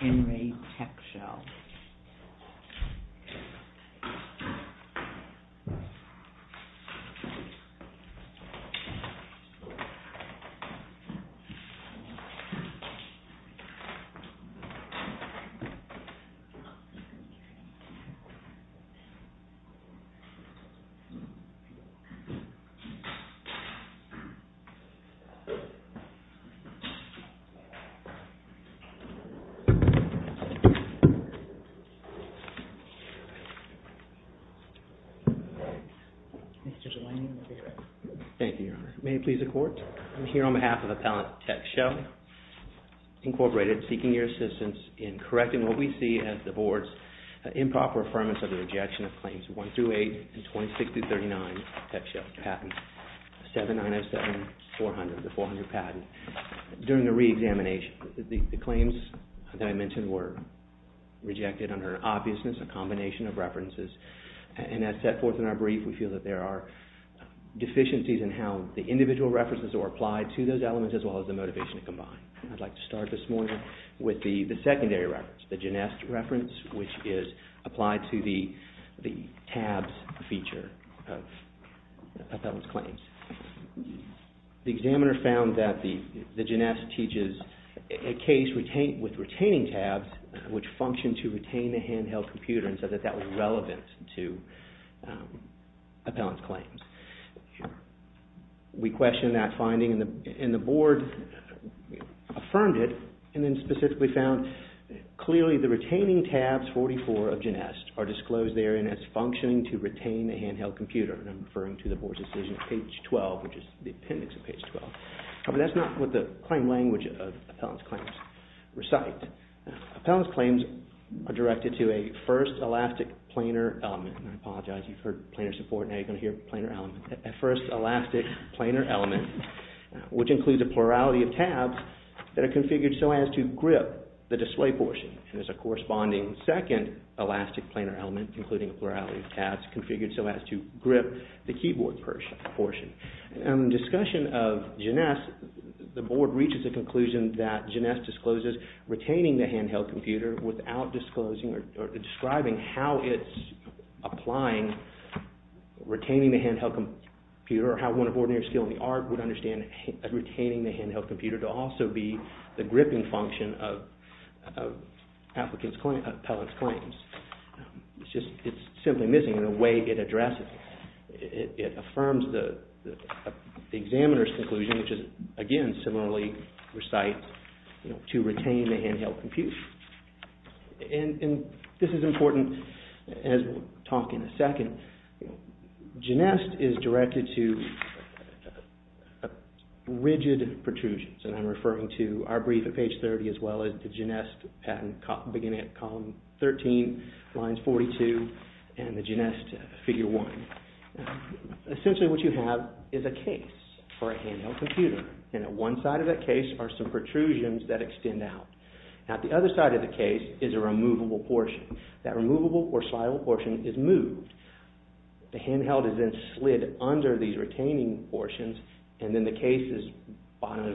Henry Techshell. I'm here on behalf of Appellant Techshell, Incorporated, seeking your assistance in correcting what we see as the Board's improper affirmance of the rejection of Claims 1-8 and 26-39 Techshell Patent, 7907-400, the 400 patent. During the re-examination, the claims that I mentioned were rejected under an obviousness, a combination of references, and as set forth in our brief, we feel that there are deficiencies in how the individual references are applied to those elements as well as the motivation to combine. I'd like to start this morning with the secondary reference, the Genest reference, which is applied to the tabs feature of appellant's claims. The examiner found that the Genest teaches a case with retaining tabs which function to retain a handheld computer and said that that was relevant to appellant's claims. We questioned that finding and the Board affirmed it and then specifically found clearly the Genest are disclosed therein as functioning to retain a handheld computer and I'm referring to the Board's decision on page 12, which is the appendix of page 12, but that's not what the claim language of appellant's claims recite. Appellant's claims are directed to a first elastic planar element, and I apologize, you've heard planar support, now you're going to hear planar element, a first elastic planar element, which includes a plurality of tabs that are configured so as to grip the display portion. There's a corresponding second elastic planar element, including a plurality of tabs configured so as to grip the keyboard portion. In discussion of Genest, the Board reaches a conclusion that Genest discloses retaining the handheld computer without disclosing or describing how it's applying retaining the handheld computer or how one of ordinary skill in the art would understand retaining the appellant's claims. It's just, it's simply missing in the way it addresses. It affirms the examiner's conclusion, which is, again, similarly recites to retain a handheld computer. And this is important, as we'll talk in a second, Genest is directed to rigid protrusions and I'm referring to our brief at page 30, as well as the Genest patent beginning at column 13, lines 42, and the Genest figure 1. Essentially what you have is a case for a handheld computer, and at one side of that case are some protrusions that extend out. Now at the other side of the case is a removable portion. That removable or slideable portion is moved, the handheld is then slid under these retaining portions, and then the case is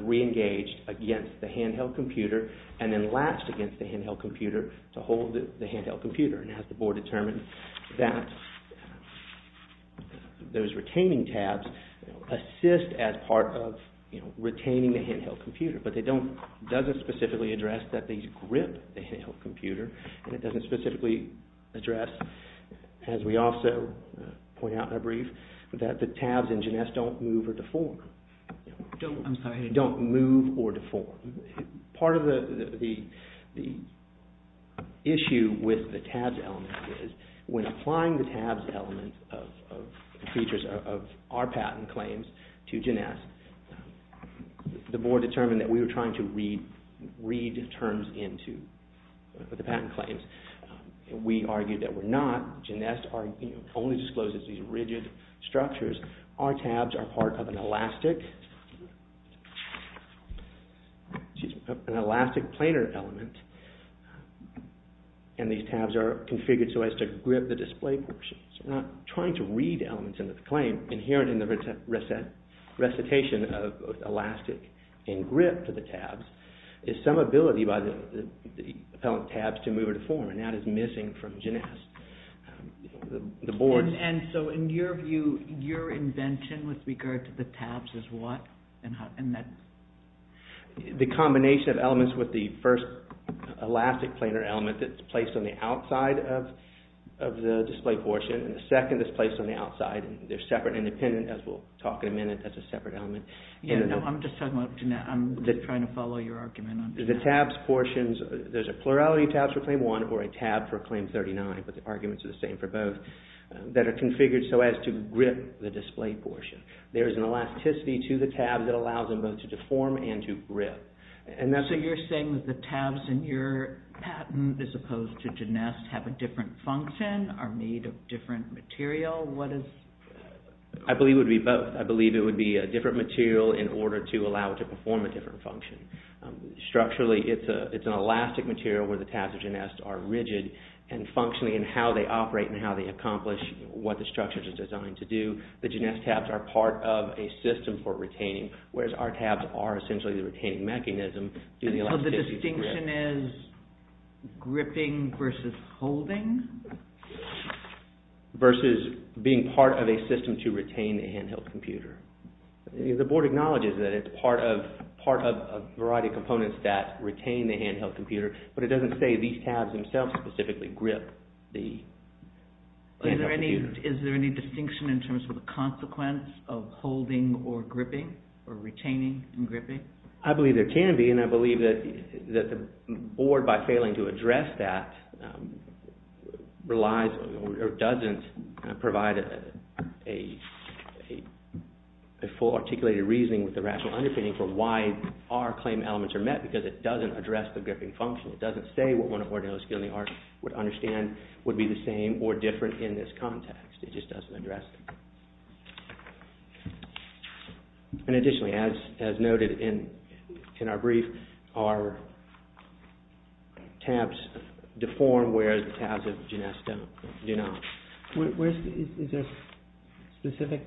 re-engaged against the handheld computer, and then latched against the handheld computer to hold the handheld computer, and has the board determine that those retaining tabs assist as part of retaining the handheld computer, but they don't, doesn't specifically address that they grip the handheld computer, and it doesn't specifically address, as we also point out in our brief, that the tabs in Genest don't move or deform. I'm sorry. They don't move or deform. Part of the issue with the tabs element is when applying the tabs element of our patent claims to Genest, the board determined that we were trying to read terms into the patent claims. We argued that we're not. Genest only discloses these rigid structures. Our tabs are part of an elastic, an elastic planar element, and these tabs are configured so as to grip the display portion. So we're not trying to read elements into the claim. Inherent in the recitation of elastic and grip to the tabs is some ability by the appellant tabs to move or deform, and that is missing from Genest. The board... And so, in your view, your invention with regard to the tabs is what? The combination of elements with the first elastic planar element that's placed on the outside of the display portion, and the second is placed on the outside, and they're separate and independent, as we'll talk in a minute, that's a separate element. Yeah, no, I'm just talking about Genest. I'm just trying to follow your argument on that. The tabs portions, there's a plurality of tabs for Claim 1 or a tab for Claim 39, but the arguments are the same for both, that are configured so as to grip the display portion. There is an elasticity to the tabs that allows them both to deform and to grip. And that's... So you're saying that the tabs in your patent, as opposed to Genest, have a different function, are made of different material? What is... I believe it would be both. Structurally, it's an elastic material where the tabs of Genest are rigid and functionally in how they operate and how they accomplish what the structures are designed to do. The Genest tabs are part of a system for retaining, whereas our tabs are essentially the retaining mechanism due to the elasticity to grip. So the distinction is gripping versus holding? Versus being part of a system to retain the handheld computer. The board acknowledges that it's part of a variety of components that retain the handheld computer, but it doesn't say these tabs themselves specifically grip the computer. Is there any distinction in terms of the consequence of holding or gripping, or retaining and gripping? I believe there can be, and I believe that the board, by failing to address that, relies or doesn't provide a full articulated reasoning with the rational underpinning for why our claim elements are met, because it doesn't address the gripping function. It doesn't say what one of Ordinal's skill in the art would understand would be the same or different in this context. It just doesn't address it. Additionally, as noted in our brief, our tabs deform whereas the tabs of Genest do not. Is there a specific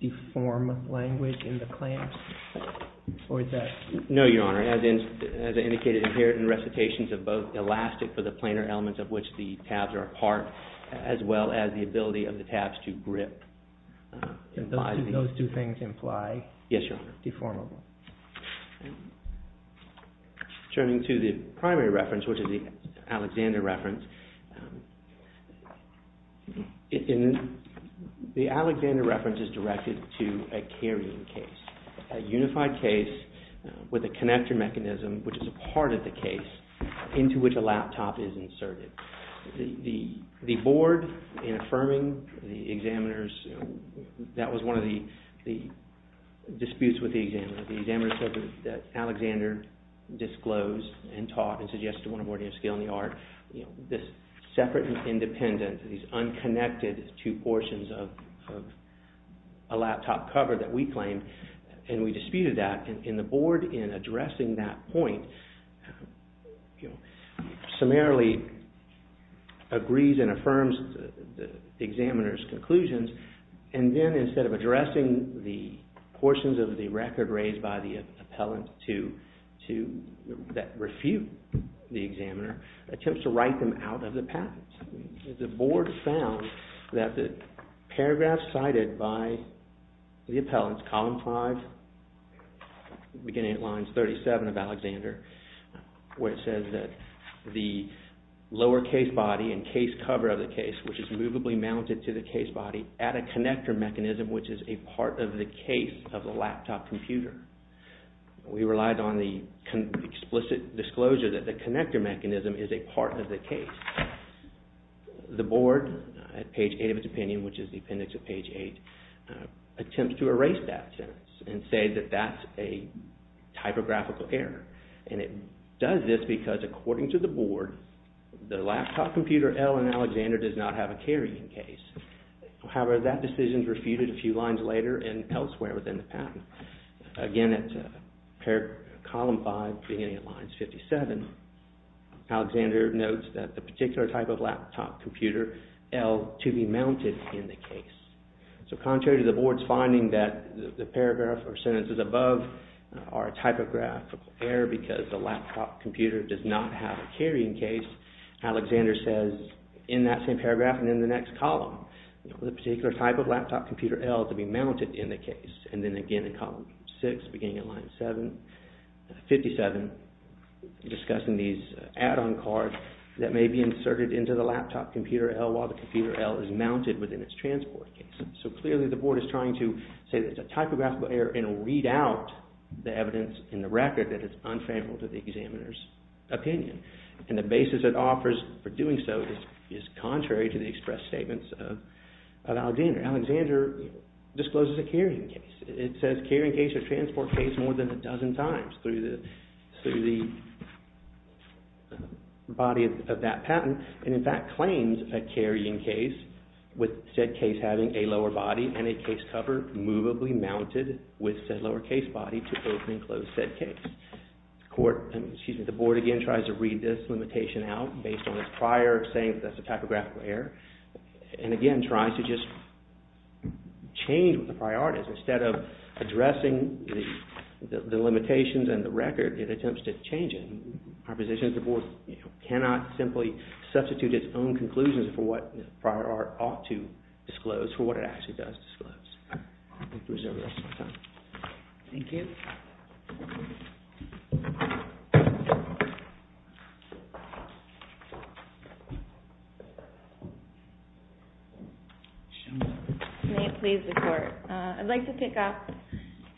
deform language in the claims? No, Your Honor. As indicated in here, in recitations of both elastic for the planar elements of which the tabs are Those two things imply deformable. Turning to the primary reference, which is the Alexander reference. The Alexander reference is directed to a carrying case, a unified case with a connector mechanism, which is a part of the case, into which a laptop is inserted. The board, in affirming the examiner's, that was one of the disputes with the examiner. The examiner said that Alexander disclosed and taught and suggested one of Ordinal's skill in the art. This separate and independent, these unconnected two portions of a laptop cover that we claimed, and we disputed that. The board, in addressing that point, summarily agrees and affirms the examiner's conclusions. Then, instead of addressing the portions of the record raised by the appellant that refute the examiner, attempts to write them out of the patent. The board found that the paragraph cited by the appellant, column 5, beginning at lines 37 of Alexander, where it says that the lower case body and case cover of the case, which is movably mounted to the case body, add a connector mechanism, which is a part of the case of the laptop computer. We relied on the explicit disclosure that the connector mechanism is a part of the case. The board, at page 8 of its opinion, which is the appendix of page 8, attempts to erase that sentence and say that that's a typographical error. It does this because, according to the board, the laptop computer L in Alexander does not have a carrying case. However, that decision is refuted a few lines later and elsewhere within the patent. Again, at column 5, beginning at lines 57, Alexander notes that the particular type of laptop computer L to be mounted in the case. So, contrary to the board's finding that the paragraph or sentences above are a typographical error because the laptop computer does not have a carrying case, Alexander says in that same paragraph and in the next column, the particular type of laptop computer L to be mounted in the case. And then again in column 6, beginning at line 57, discussing these add-on cards that may be inserted into the laptop computer L while the computer L is mounted within its transport case. So, clearly the board is trying to say that it's a typographical error and read out the evidence in the record that is unfavorable to the examiner's opinion. And the basis it offers for doing so is contrary to the express statements of Alexander. Alexander discloses a carrying case. It says carrying case or transport case more than a dozen times through the body of that patent and in fact claims a carrying case with said case having a lower body and a case cover movably mounted with said lower case body to open and close said case. The board again tries to read this limitation out based on its prior saying that it's a typographical error and again tries to just change the priorities. Instead of addressing the limitations and the record, it attempts to change it. Our position is the board cannot simply substitute its own conclusions for what prior art ought to disclose, for what it actually does disclose. Thank you. May it please the court. I'd like to pick up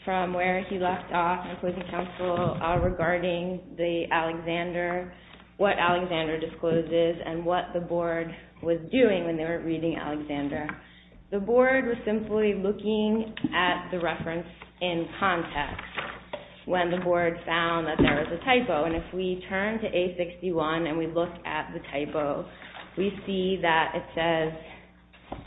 from where he left off in closing counsel regarding the Alexander, what Alexander discloses and what the board was doing when they were reading Alexander. The board was simply looking at the reference in context when the board found that there was a typo. And if we turn to A61 and we look at the typo, we see that it says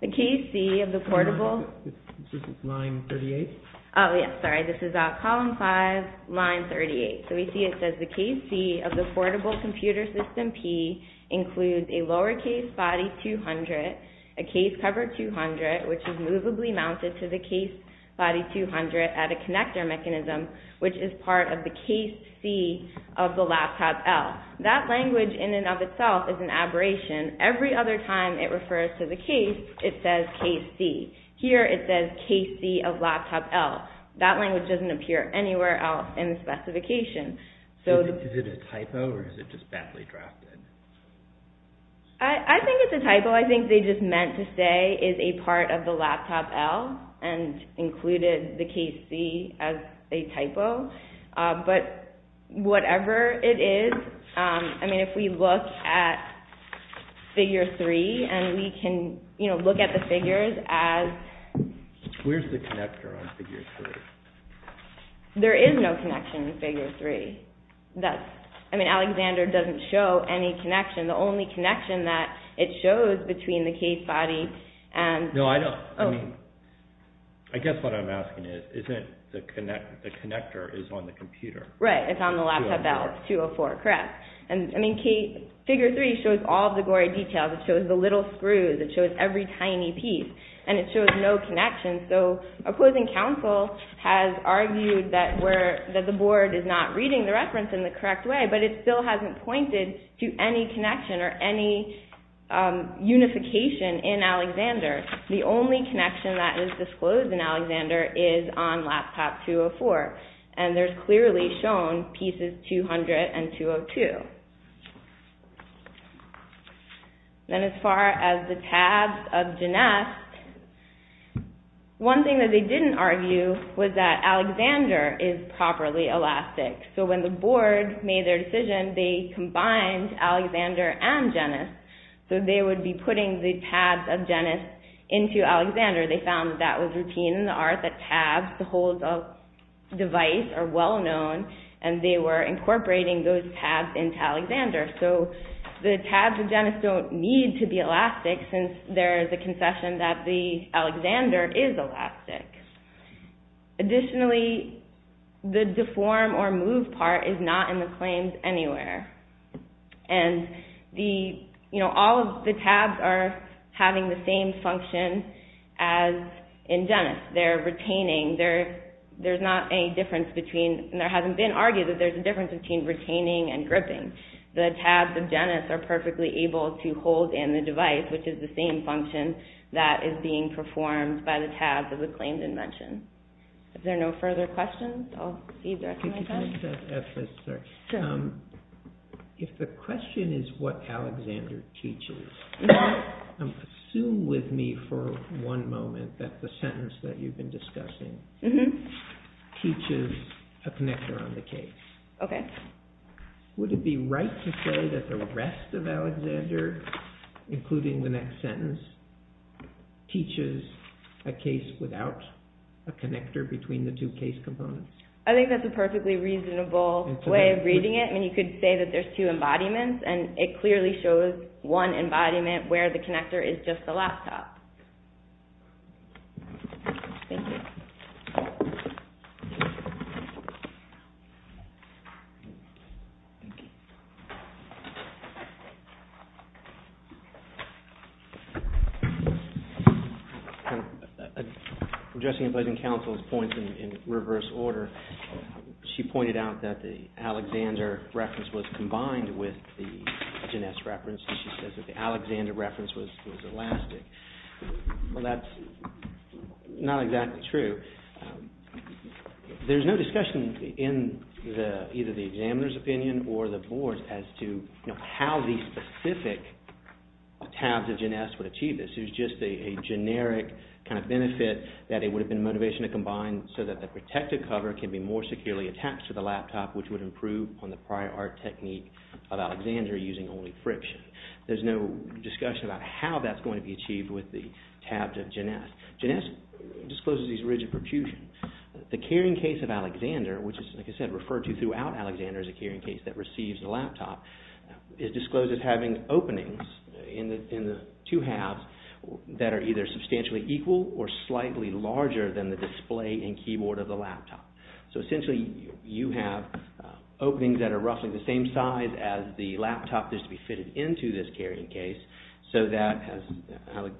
the case C of the portable... Is this line 38? Oh yes, sorry. This is column 5, line 38. So we see it says the case C of the portable computer system P includes a lower case body 200, a case cover 200 which is movably mounted to the case body 200 at a connector mechanism which is part of the case C of the laptop L. That language in and of itself is an aberration. Every other time it refers to the case, it says case C. Here it says case C of laptop L. That language doesn't appear anywhere else in the specification. Is it a typo or is it just badly drafted? I think it's a typo. I think they just meant to say is a part of the laptop L and included the case C as a typo. But whatever it is, if we look at figure 3 and we can look at the figures as... Where's the connector on figure 3? There is no connection in figure 3. Alexander doesn't show any connection. The only connection that it shows between the case body and... No, I don't. I guess what I'm asking is the connector is on the computer. Right. It's on the laptop L. It's 204. Correct. Figure 3 shows all the gory details. It shows the little screws. It shows every tiny piece. And it shows no connection. So opposing counsel has argued that the board is not reading the reference in the correct way but it still hasn't pointed to any connection or any unification in Alexander. The only connection that is disclosed in Alexander is on laptop 204. And there's clearly shown pieces 200 and 202. Then as far as the tabs of Ginesse, one thing that they didn't argue was that Alexander is properly elastic. So when the board made their decision, they combined Alexander and Ginesse. So they would be putting the tabs of Ginesse into Alexander. They found that was routine in the art that tabs to hold a device are well known and they were incorporating those tabs into Alexander. So the tabs of Ginesse don't need to be elastic since there is a concession that the Alexander is elastic. Additionally, the deform or move part is not in the claims anywhere. And all of the tabs are having the same function as in Ginesse. They're retaining. There's not any difference between and there hasn't been argued that there's a difference between retaining and gripping. The tabs of Ginesse are perfectly able to hold in the device which is the same function that is being performed by the tabs of the claimed invention. Is there no further questions? If the question is what Alexander teaches, assume with me for one moment that the sentence that you've been discussing teaches a connector on the case. The connector, including the next sentence, teaches a case without a connector between the two case components. I think that's a perfectly reasonable way of reading it. You could say that there's two embodiments and it clearly shows one embodiment where the connector is just the laptop. I'm just going to play the counsel's points in reverse order. She pointed out that the Alexander reference was combined with the Ginesse reference and she says that the Alexander reference was elastic. Well, that's not exactly true. There's no discussion in either the examiner's opinion or the board's as to how these specific tabs of Ginesse would achieve this. It was just a generic benefit that it would have been a motivation to combine so that the protective cover can be more securely attached to the laptop which would improve on the prior art technique of Alexander using only friction. There's no discussion about how that's going to be achieved with the tabs of Ginesse. Ginesse discloses these rigid protrusions. The carrying case of Alexander, which is, like I said, referred to throughout Alexander as a carrying case that receives the laptop, is disclosed as having openings in the two halves that are either substantially equal or slightly larger than the display and keyboard of the laptop. Essentially, you have openings that are roughly the same size as the laptop that's to be fitted into this carrying case so that, as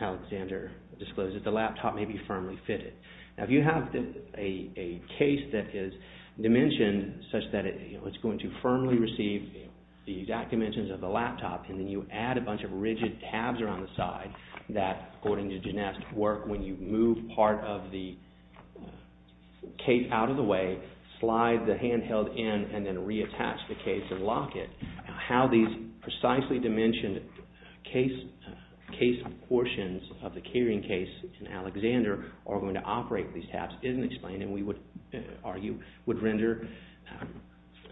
Alexander discloses, the laptop may be firmly fitted. If you have a case that is dimensioned such that it's going to firmly receive the exact dimensions of the laptop and then you add a bunch of rigid tabs around the side that, according to Ginesse, work when you move part of the case out of the way, slide the handheld in, and then reattach the case and lock it, how these precisely dimensioned case portions of the carrying case in Alexander are going to operate with these tabs isn't explained and we would argue would render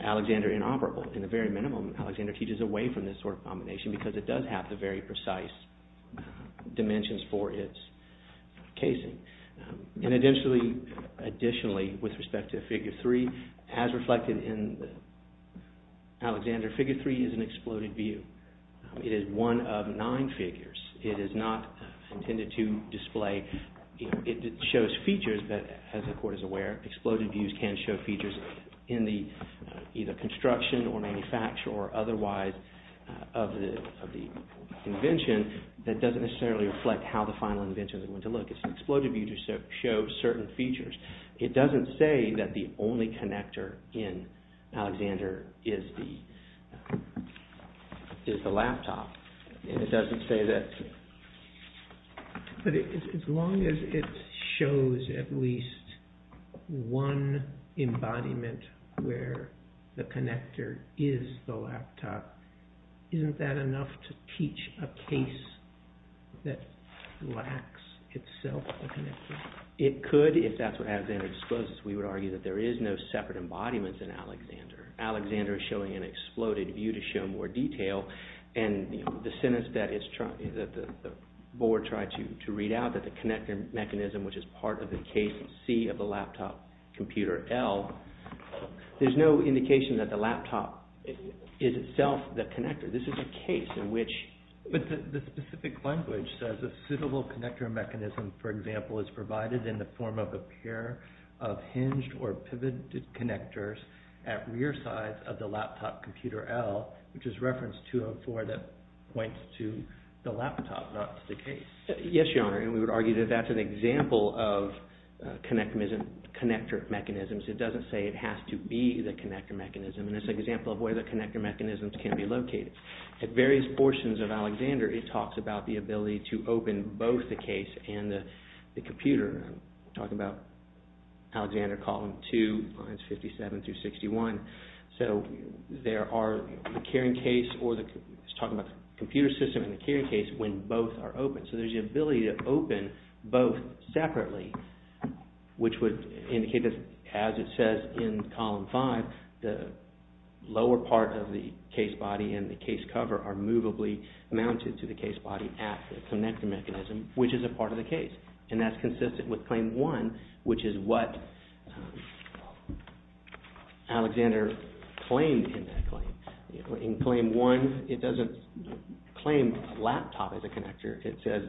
Alexander inoperable. In the very minimum, Alexander teaches away from this sort of combination because it does have the very precise dimensions for its casing. Additionally, with respect to Figure 3, as reflected in Alexander, Figure 3 is an exploded view. It is one of nine figures. It is not intended to display. It shows features that, as the Court is aware, exploded views can show features in the either construction or manufacture or otherwise of the invention that doesn't necessarily reflect how the final invention is going to look. It's an exploded view to show certain features. It doesn't say that the only connector in Alexander is the laptop. It doesn't say that. But as long as it shows at least one embodiment where the connector is the laptop, isn't that enough to teach a case that lacks itself a connector? It could, if that's what Alexander discloses. We would argue that there is no separate embodiment in Alexander. Alexander is showing an exploded view to show more detail and the sentence that the Board tried to read out, that the connector mechanism, which is part of the case C of the laptop computer L, there's no indication that the laptop is itself the connector. This is a case in which the specific language says a suitable connector mechanism, for example, is provided in the form of a pair of hinged or pivoted connectors at rear sides of the laptop computer L, which is reference 204 that points to the laptop, not to the case. Yes, Your Honor, and we would argue that that's an example of connector mechanisms. It doesn't say it has to be the connector mechanism, and it's an example of where the connector mechanisms can be located. At various portions of Alexander, it talks about the ability to open both the case and the computer. We're talking about Alexander column 2, lines 57 through 61. So there are the carrying case, or he's talking about the computer system and the carrying case when both are open. So there's the ability to open both separately, which would indicate that, as it says in column 5, the lower part of the case body and the case cover are movably mounted to the case body at the connector mechanism, which is a part of the case. And that's consistent with claim 1, which is what Alexander claimed in that claim. In claim 1, it doesn't claim laptop as a connector. It says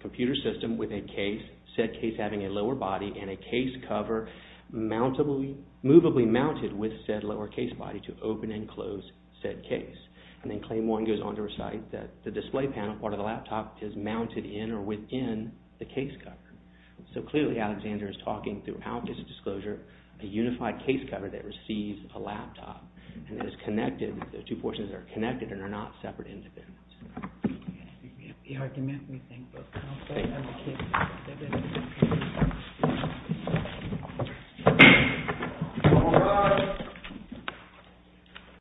computer system with a case, said case having a lower body, and a case cover movably mounted with said lower case body to open and close said case. And then claim 1 goes on to recite that the display panel part of the laptop is mounted in or within the case cover. So clearly Alexander is talking throughout this disclosure a unified case cover that receives a laptop. And it is connected, the two portions are connected and are not separate.